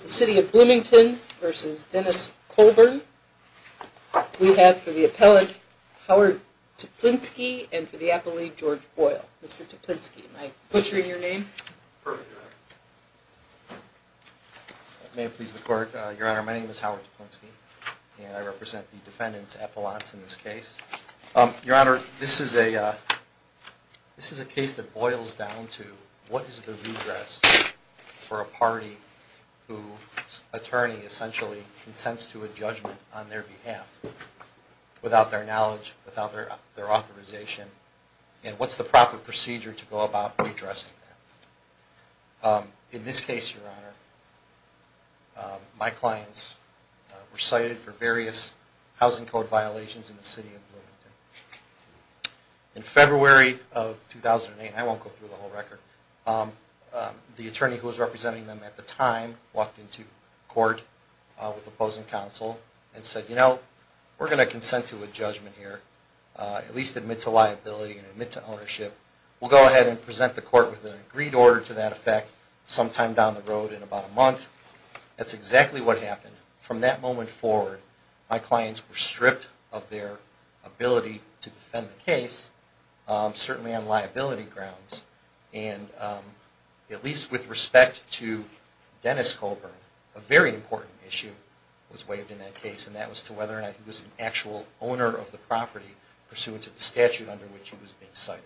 The City of Bloomington v. Dennis Colburn. We have for the appellant, Howard Toplinski, and for the appellate, George Boyle. Mr. Toplinski, may I put you in your name? May it please the court. Your Honor, my name is Howard Toplinski, and I represent the defendants' appellants in this case. Your Honor, this is a case that boils down to what is the redress for a party whose attorney essentially consents to a judgment on their behalf without their knowledge, without their authorization, and what's the proper procedure to go about redressing that? In this case, Your Honor, my clients were cited for various housing code violations in the City of Bloomington. In February of 2008, I won't go through the whole record, the attorney who was representing them at the time walked into court with opposing counsel and said, you know, we're going to consent to a judgment here, at least admit to liability and admit to ownership. We'll go ahead and present the court with an agreed order to that effect sometime down the road in about a month. That's exactly what happened. From that moment forward, my clients were stripped of their ability to defend the case, certainly on liability grounds, and at least with respect to Dennis Colburn, a very important issue was waived in that case, and that was to whether or not he was an actual owner of the property pursuant to the statute under which he was being cited.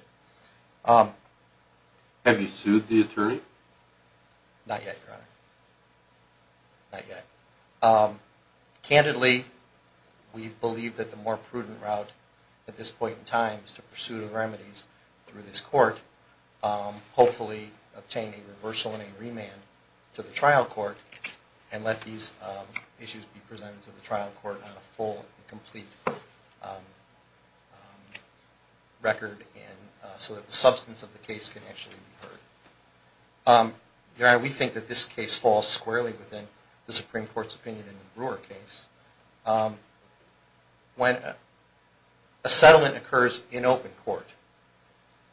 Have you sued the attorney? Not yet, Your Honor. Not yet. Candidly, we believe that the more prudent route at this point in time is to pursue the remedies through this court, hopefully obtain a reversal and a remand to the trial court and let these issues be presented to the trial court on a full and complete record so that the substance of the case can actually be heard. Your Honor, we think that this case falls squarely within the Supreme Court's opinion in the Brewer case. When a settlement occurs in open court,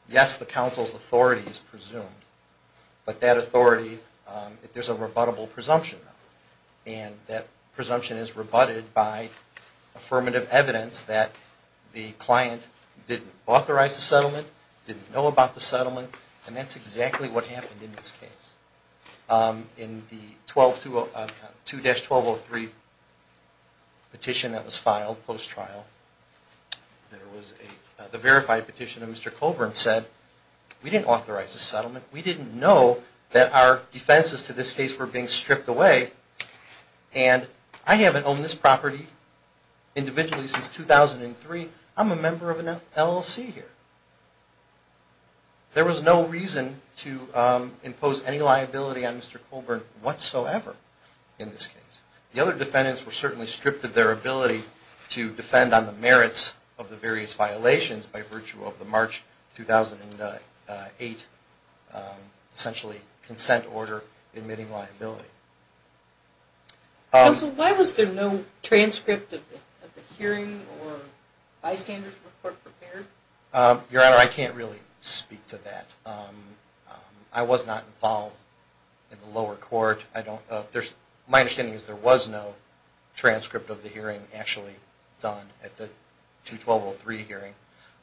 yes, the counsel's authority is presumed, but that authority, there's a rebuttable presumption, and that presumption is rebutted by affirmative evidence that the client didn't authorize the settlement, didn't know about the settlement, and that's exactly what happened. In the 2-1203 petition that was filed post-trial, the verified petition of Mr. Colburn said, we didn't authorize the settlement, we didn't know that our defenses to this case were being stripped away, and I haven't owned this property individually since 2003, I'm a member of an LLC here. There was no reason to impose any liability on Mr. Colburn whatsoever in this case. The other defendants were certainly stripped of their ability to defend on the merits of the various violations by virtue of the March 2008 essentially consent order admitting liability. Counsel, why was there no transcript of the hearing or bystanders report prepared? Your Honor, I can't really speak to that. I was not involved in the lower court. My understanding is there was no transcript of the hearing actually done at the 2-1203 hearing,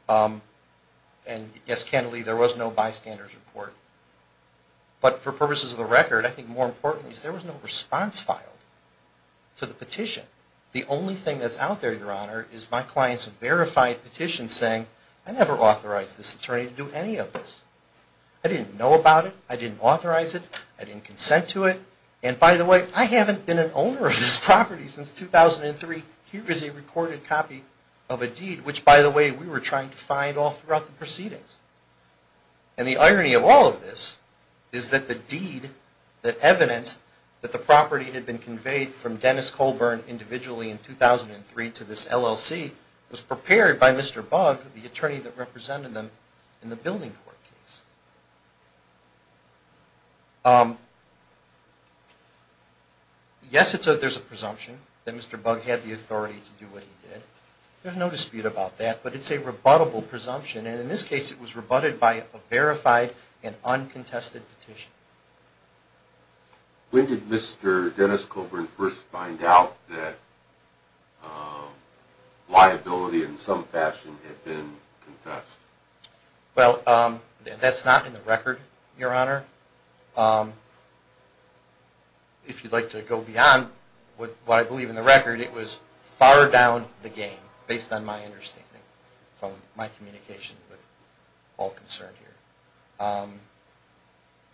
and yes, candidly, there was no bystanders report. But for purposes of the record, I think more important is there was no response filed to the petition. The only thing that's out there, Your Honor, is my client's verified petition saying, I never authorized this attorney to do any of this. I didn't know about it, I didn't authorize it, I didn't consent to it, and by the way, I haven't been an owner of this property since 2003. Here is a recorded copy of a deed, which by the way, we were trying to find all throughout the proceedings. And the irony of all of this is that the deed that evidenced that the property had been conveyed from Dennis Colburn individually in 2003 to this LLC was prepared by Mr. Bugg, the attorney that represented them in the building court case. Yes, there's a presumption that Mr. Bugg had the authority to do what he did. There's no dispute about that, but it's a rebuttable presumption, and in this case, it was rebutted by a verified and uncontested petition. When did Mr. Dennis Colburn first find out that liability in some fashion had been contested?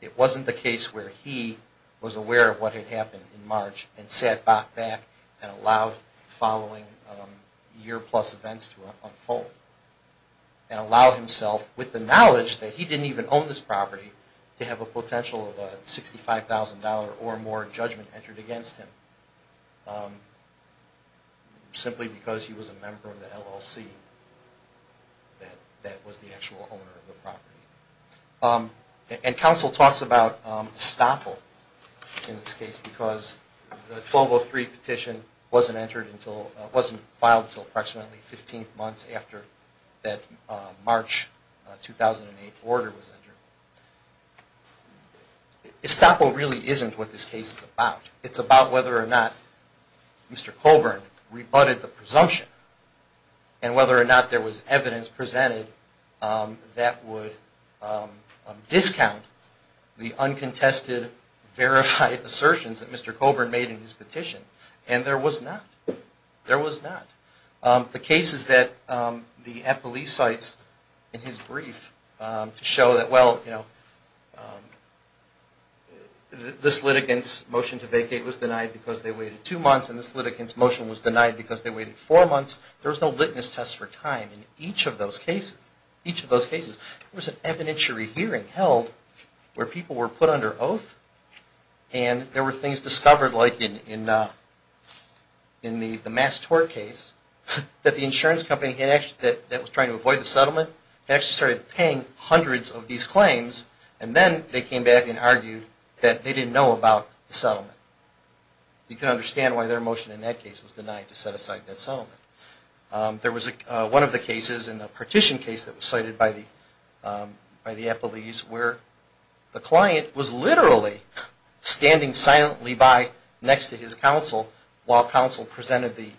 It wasn't the case where he was aware of what had happened in March and sat back and allowed the following year-plus events to unfold and allowed himself, with the knowledge that he didn't even own this property, to have a potential of a $65,000 or more judgment entered against him simply because he was a member of the LLC that was the actual owner of the property. And counsel talks about estoppel in this case because the 1203 petition wasn't filed until approximately 15 months after that March 2008 order was entered. Estoppel really isn't what this case is about. It's about whether or not Mr. Colburn rebutted the presumption and whether or not there was evidence presented that would discount the uncontested, verified assertions that Mr. Colburn made in his petition. And there was not. There was not. The cases that the police cited in his brief to show that, well, this litigant's motion to vacate was denied because they waited two months and this litigant's motion was denied because they waited four months, there was no witness test for time in each of those cases. There was an evidentiary hearing held where people were put under oath and there were things discovered, like in the Mass Tort case, that the insurance company that was trying to avoid the settlement had actually started paying hundreds of these claims and then they came back and argued that they didn't know about the settlement. You can understand why their motion in that case was denied to set aside that settlement. There was one of the cases in the petition case that was cited by the police where the client was literally standing silently by next to his counsel while counsel presented the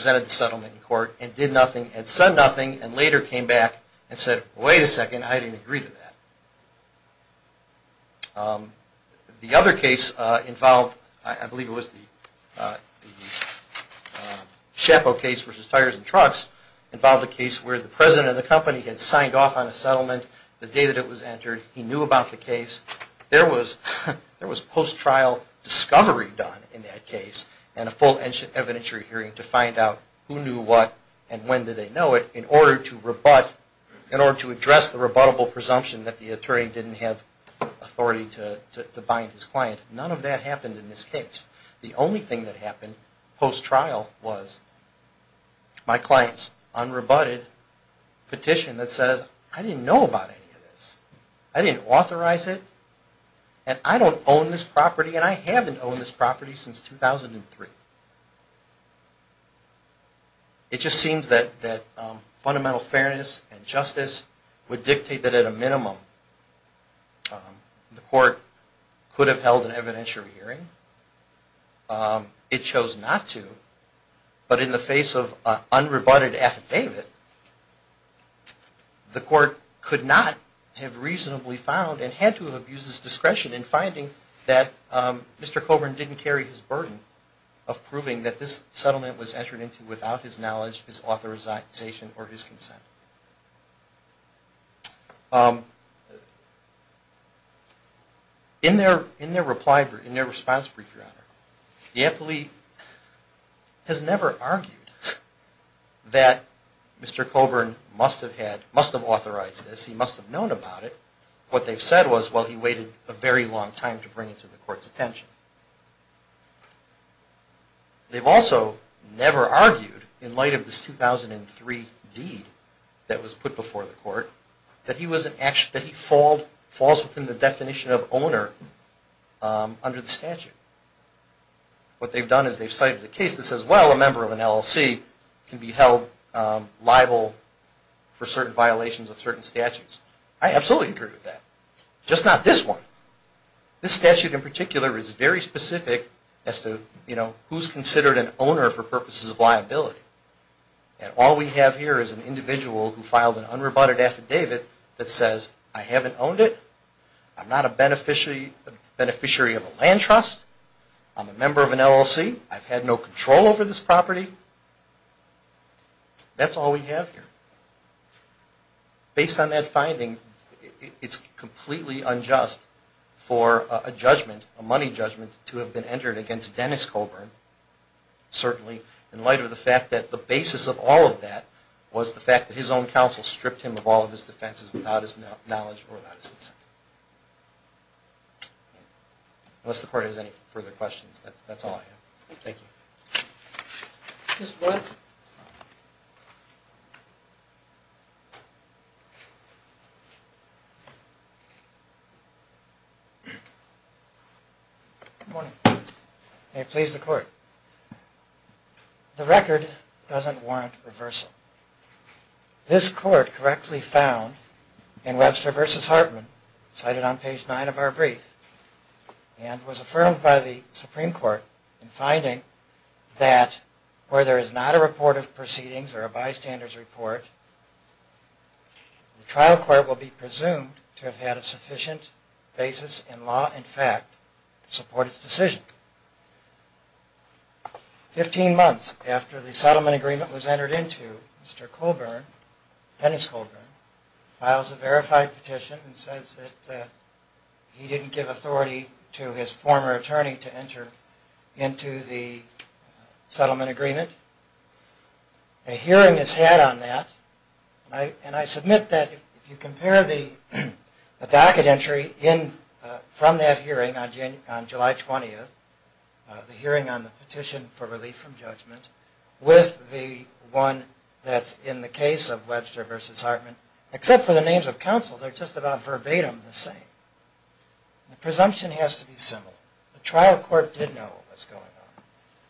settlement in court and did nothing and said nothing and later came back and said, wait a second, I didn't agree to that. The other case involved, I believe it was the Chappo case versus Tires and Trucks, involved a case where the president of the company had signed off on a settlement the day that it was entered. He knew about the case. There was post-trial discovery done in that case and a full evidentiary hearing to find out who knew what and when did they know it in order to address the rebuttable presumption that the attorney didn't have authority to do that. None of that happened in this case. The only thing that happened post-trial was my client's unrebutted petition that says, I didn't know about any of this. I didn't authorize it and I don't own this property and I haven't owned this property since 2003. It just seems that fundamental fairness and justice would dictate that at a minimum the court could have held an evidentiary hearing. It chose not to, but in the face of an unrebutted affidavit, the court could not have reasonably found and had to have used its discretion in finding that Mr. Coburn didn't carry his burden. In their response, the appellee has never argued that Mr. Coburn must have authorized this. He must have known about it. What they've said was, well, he waited a very long time to bring it to the court's attention. They've also never argued, in light of this 2003 deed that was put before the court, that he falls within the definition of owner under the statute. What they've done is they've cited a case that says, well, a member of an LLC can be held liable for certain violations of certain statutes. I absolutely agree with that. Just not this one. This statute in particular is very specific as to who's considered an owner for purposes of liability. All we have here is an individual who filed an unrebutted affidavit that says, I haven't owned it, I'm not a beneficiary of a land trust, I'm a member of an LLC, I've had no control over this property. That's all we have here. Based on that finding, it's completely unjust for a judgment, a money judgment, to have been entered against Dennis Coburn, certainly, in light of the fact that the basis of all of that was the fact that his own counsel stripped him of all of his defenses without his knowledge or without his consent. Unless the court has any further questions, that's all I have. Thank you. Mr. Blunt. Good morning. May it please the court. The record doesn't warrant reversal. This court correctly found in Webster v. Hartman, cited on page 9 of our brief, and was affirmed by the Supreme Court in finding that where there is not a report of proceedings or a bystander's report, the trial court will be presumed to have had a sufficient basis in law and fact to support its decision. Fifteen months after the settlement agreement was entered into, Mr. Coburn, Dennis Coburn, files a verified petition and says that he didn't give authority to his former attorney to enter into the settlement agreement. A hearing is had on that, and I submit that if you compare the docket entry from that hearing on July 20th, the hearing on the petition for relief from judgment, with the one that's in the case of Webster v. Hartman, except for the names of counsel, they're just about verbatim the same. The presumption has to be similar. The trial court did know what was going on.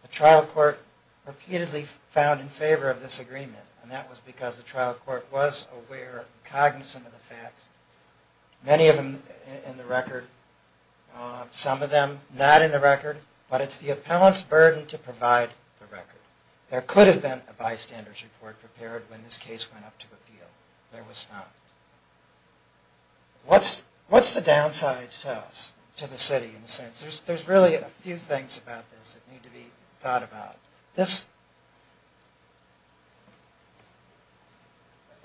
The trial court repeatedly found in favor of this agreement, and that was because the trial court was aware and cognizant of the facts, many of them in the record, some of them not in the record, but it's the appellant's burden to provide the record. There could have been a bystander's report prepared when this case went up to appeal. There was not. What's the downside to us, to the city? There's really a few things about this that need to be thought about.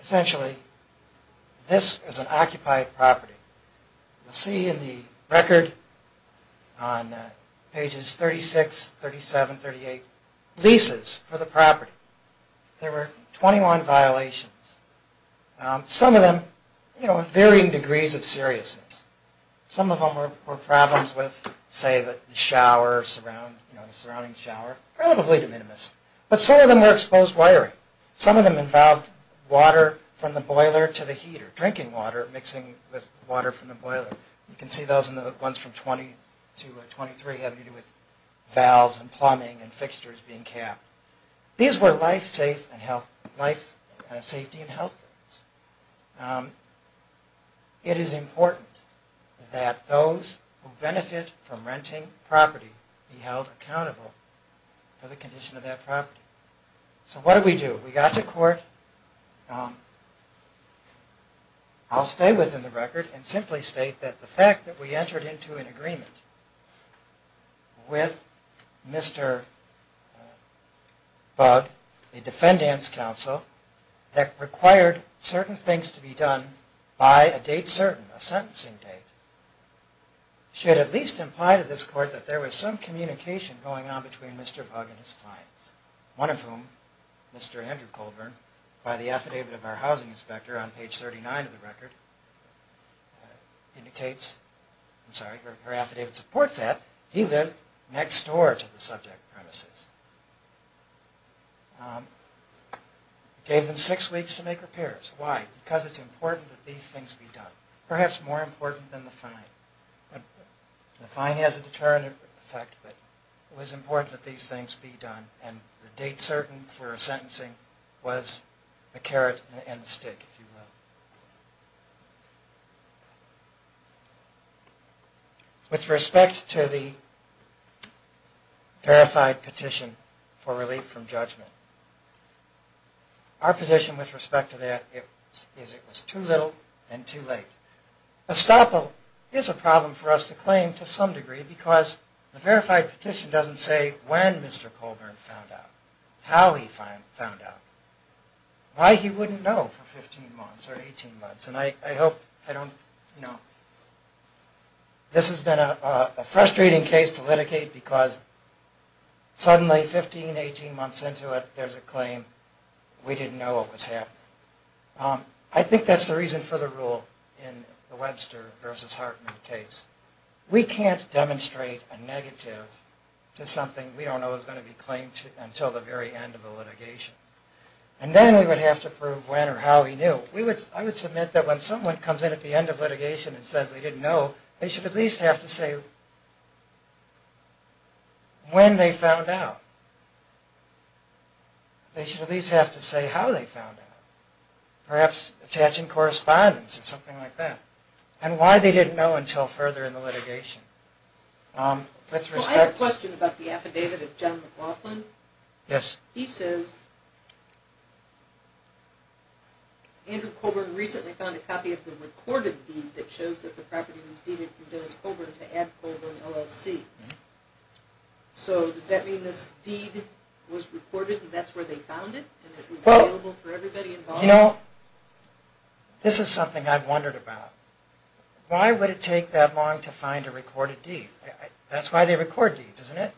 Essentially, this is an occupied property. You'll see in the record on pages 36, 37, 38, leases for the property. There were 21 violations. Some of them, you know, of varying degrees of seriousness. Some of them were problems with, say, the shower, you know, the surrounding shower, relatively de minimis. But some of them were exposed wiring. Some of them involved water from the boiler to the heater, drinking water mixing with water from the boiler. You can see those in the ones from 22 or 23 having to do with valves and plumbing and fixtures being capped. These were life, safety, and health things. It is important that those who benefit from renting property be held accountable for the condition of that property. So what did we do? We got to court. I'll stay within the record and simply state that the fact that we entered into an agreement with Mr. Bugg, a defendant's counsel, that required certain things to be done by a date certain, a sentencing date, should at least imply to this court that there was some communication going on between Mr. Bugg and his clients. One of whom, Mr. Andrew Colburn, by the affidavit of our housing inspector on page 39 of the record, indicates, I'm sorry, her affidavit supports that. He lived next door to the subject premises. We gave them six weeks to make repairs. Why? Because it's important that these things be done. Perhaps more important than the fine. The fine has a deterrent effect, but it was important that these things be done. And the date certain for a sentencing was a carrot and a stick, if you will. With respect to the verified petition for relief from judgment, our position with respect to that is it was too little and too late. A stop is a problem for us to claim to some degree, because the verified petition doesn't say when Mr. Colburn found out, how he found out, why he wouldn't know for 15 months or 18 months. And I hope, I don't, you know, this has been a frustrating case to litigate, because suddenly 15, 18 months into it, there's a claim, we didn't know it was happening. I think that's the reason for the rule in the Webster v. Hartman case. We can't demonstrate a negative to something we don't know is going to be claimed until the very end of the litigation. And then we would have to prove when or how he knew. I would submit that when someone comes in at the end of litigation and says they didn't know, they should at least have to say when they found out. They should at least have to say how they found out. Perhaps attaching correspondence or something like that. And why they didn't know until further in the litigation. I have a question about the affidavit of John McLaughlin. He says Andrew Colburn recently found a copy of the recorded deed that shows that the property was deeded from Dennis Colburn to Ed Colburn, LSC. So does that mean this deed was recorded and that's where they found it and it was available for everybody involved? You know, this is something I've wondered about. Why would it take that long to find a recorded deed? That's why they record deeds, isn't it?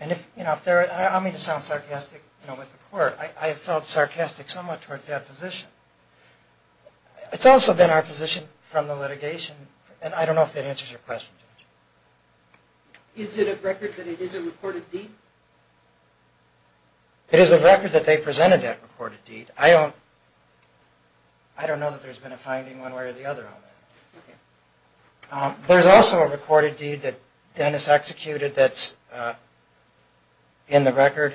I don't mean to sound sarcastic with the court. I felt sarcastic somewhat towards that position. It's also been our position from the litigation, and I don't know if that answers your question. Is it a record that it is a recorded deed? It is a record that they presented that recorded deed. I don't know that there's been a finding one way or the other on that. There's also a recorded deed that Dennis executed that's in the record.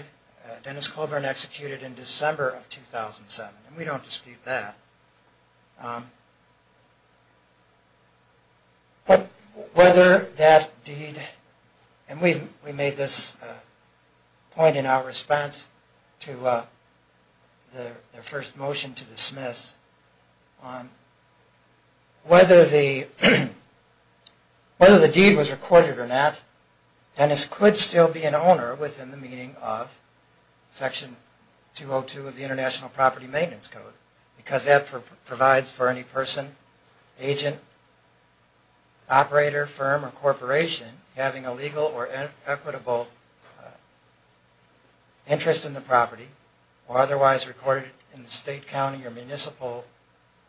Dennis Colburn executed in December of 2007, and we don't dispute that. But whether that deed, and we made this point in our response to their first motion to dismiss, whether the deed was recorded or not, Dennis could still be an owner within the meaning of Section 202 of the International Property Maintenance Code. Because that provides for any person, agent, operator, firm, or corporation having a legal or equitable interest in the property, or otherwise recorded in the state, county, or municipal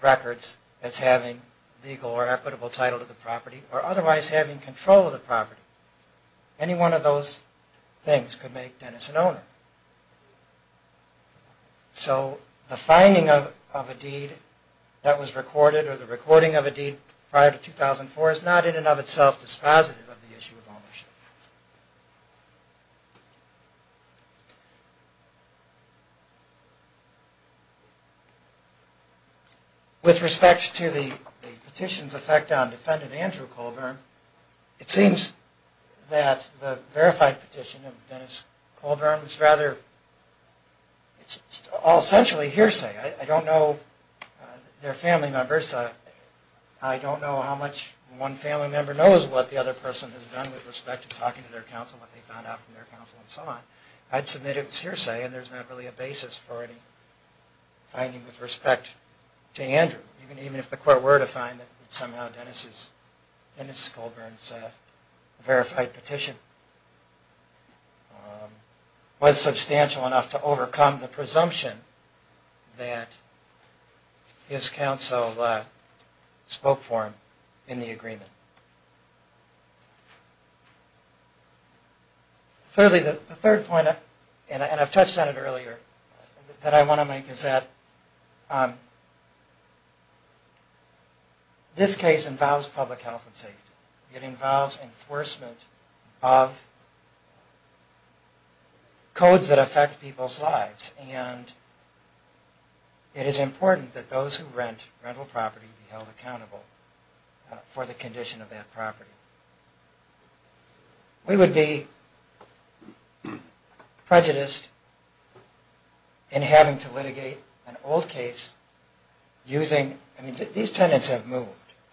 records as having legal or equitable title to the property, or otherwise having control of the property. Any one of those things could make Dennis an owner. So the finding of a deed that was recorded, or the recording of a deed prior to 2004, is not in and of itself dispositive of the issue of ownership. With respect to the petition's effect on defendant Andrew Colburn, it seems that the verified petition of Dennis Colburn is rather all essentially hearsay. I don't know their family members. I don't know how much one family member knows what the other person has done with respect to talking to their counsel, what they found out from their counsel, and so on. I'd submit it's hearsay, and there's not really a basis for any finding with respect to Andrew, even if the court were to find that somehow Dennis Colburn's verified petition was substantial enough to overcome the presumption that his counsel spoke for him in the agreement. Thirdly, the third point, and I've touched on it earlier, that I want to make is that this case involves public health and safety. It involves enforcement of codes that affect people's lives. And it is important that those who rent rental property be held accountable for the condition of that property. We would be prejudiced in having to litigate an old case using, I mean these tenants have moved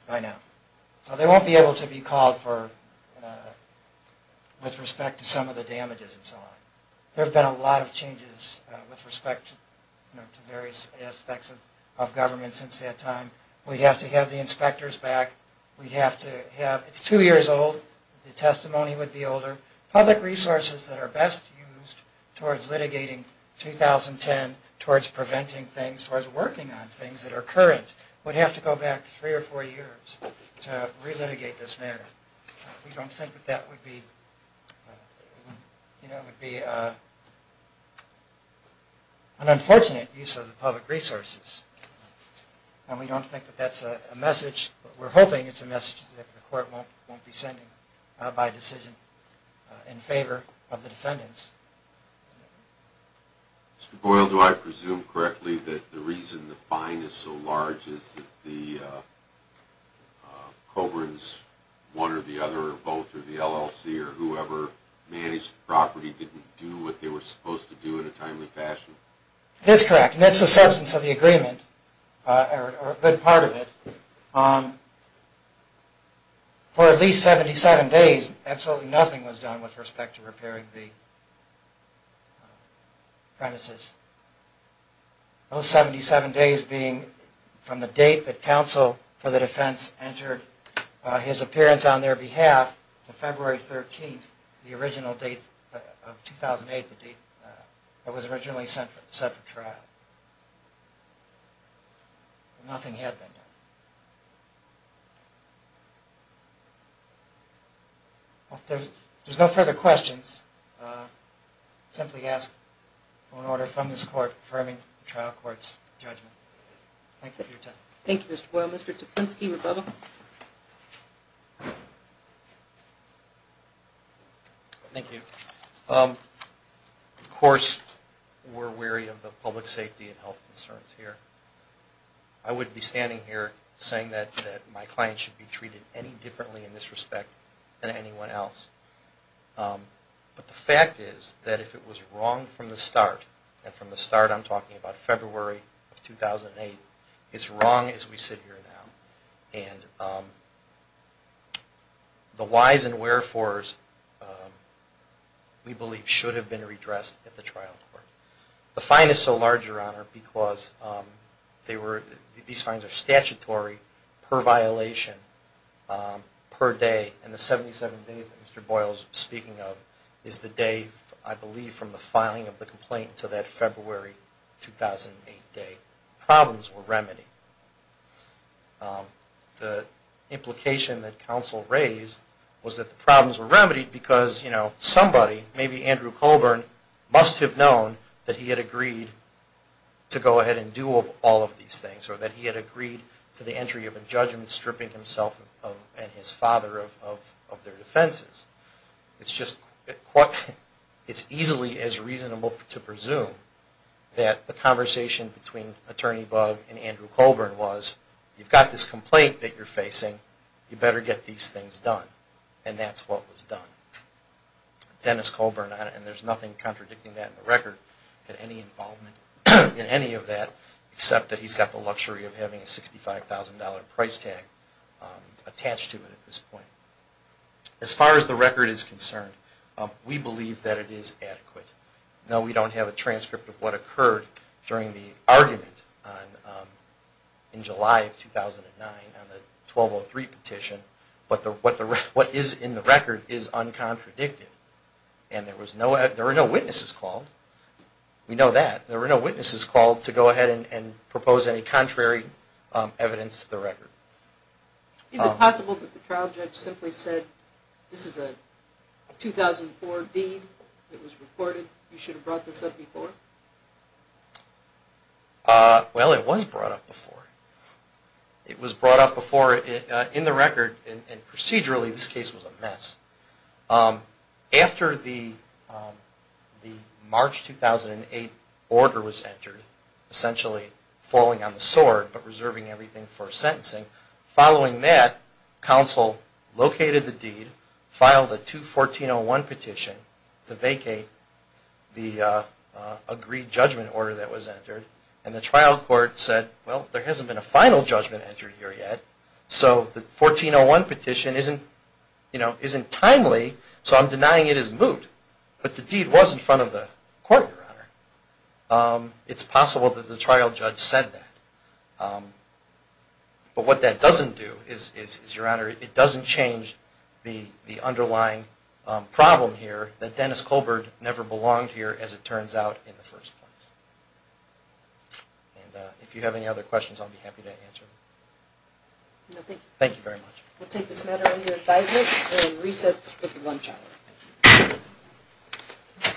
by now, so they won't be able to be called for with respect to some of the damages and so on. There have been a lot of changes with respect to various aspects of government since that time. We'd have to have the inspectors back, we'd have to have, it's two years old, the testimony would be older, public resources that are best used towards litigating 2010, towards preventing things, towards working on things that are current, would have to go back three or four years to re-litigate this matter. We don't think that that would be, you know, it would be an unfortunate use of the public resources. And we don't think that that's a message, we're hoping it's a message that the court won't be sending by decision in favor of the defendants. Mr. Boyle, do I presume correctly that the reason the fine is so large is that the Coburns, one or the other or both or the LLC or whoever managed the property didn't do what they were supposed to do in a timely fashion? That's correct, and that's the substance of the agreement, or a good part of it. For at least 77 days, absolutely nothing was done with respect to repairing the premises. Those 77 days being from the date that counsel for the defense entered his appearance on their behalf to February 13th, the original date of 2008, the date that was originally set for trial. Nothing had been done. If there's no further questions, I'll simply ask for an order from this court confirming the trial court's judgment. Thank you for your time. Thank you, Mr. Boyle. Mr. Tipinski, rebuttal. Thank you. Of course, we're wary of the public safety and health concerns here. I wouldn't be standing here saying that my client should be treated any differently in this respect than anyone else, but the fact is that if it was wrong from the start, and from the start I'm talking about February of 2008, it's wrong as we sit here now. And the whys and wherefores we believe should have been redressed at the trial court. The fine is so large, Your Honor, because these fines are statutory per violation per day, and the 77 days that Mr. Boyle is speaking of is the day, I believe, from the filing of the complaint to that February 2008 day. The problems were remedied. The implication that counsel raised was that the problems were remedied because somebody, maybe Andrew Colburn, must have known that he had agreed to go ahead and do all of these things, or that he had agreed to the entry of a judgment stripping himself and his father of their defenses. It's easily as reasonable to presume that the conversation between Attorney Bugg and Andrew Colburn was, you've got this complaint that you're facing, you better get these things done. And that's what was done. Dennis Colburn, and there's nothing contradicting that in the record, had any involvement in any of that except that he's got the luxury of having a $65,000 price tag attached to it at this point. As far as the record is concerned, we believe that it is adequate. No, we don't have a transcript of what occurred during the argument in July of 2009 on the 1203 petition, but what is in the record is uncontradicted. And there were no witnesses called. We know that. There were no witnesses called to go ahead and propose any contrary evidence to the record. Is it possible that the trial judge simply said, this is a 2004 deed, it was reported, you should have brought this up before? Well, it was brought up before. It was brought up before in the record, and procedurally this case was a mess. After the March 2008 order was entered, essentially falling on the sword but reserving everything for sentencing, following that, counsel located the deed, filed a 2-1401 petition to vacate the agreed judgment order that was entered, and the trial court said, well, there hasn't been a final judgment entered here yet, so the 1401 petition isn't timely, so I'm denying it is moot. But the deed was in front of the court, Your Honor. It's possible that the trial judge said that. But what that doesn't do is, Your Honor, it doesn't change the underlying problem here that Dennis Colbert never belonged here as it turns out in the first place. And if you have any other questions, I'll be happy to answer them. Thank you very much.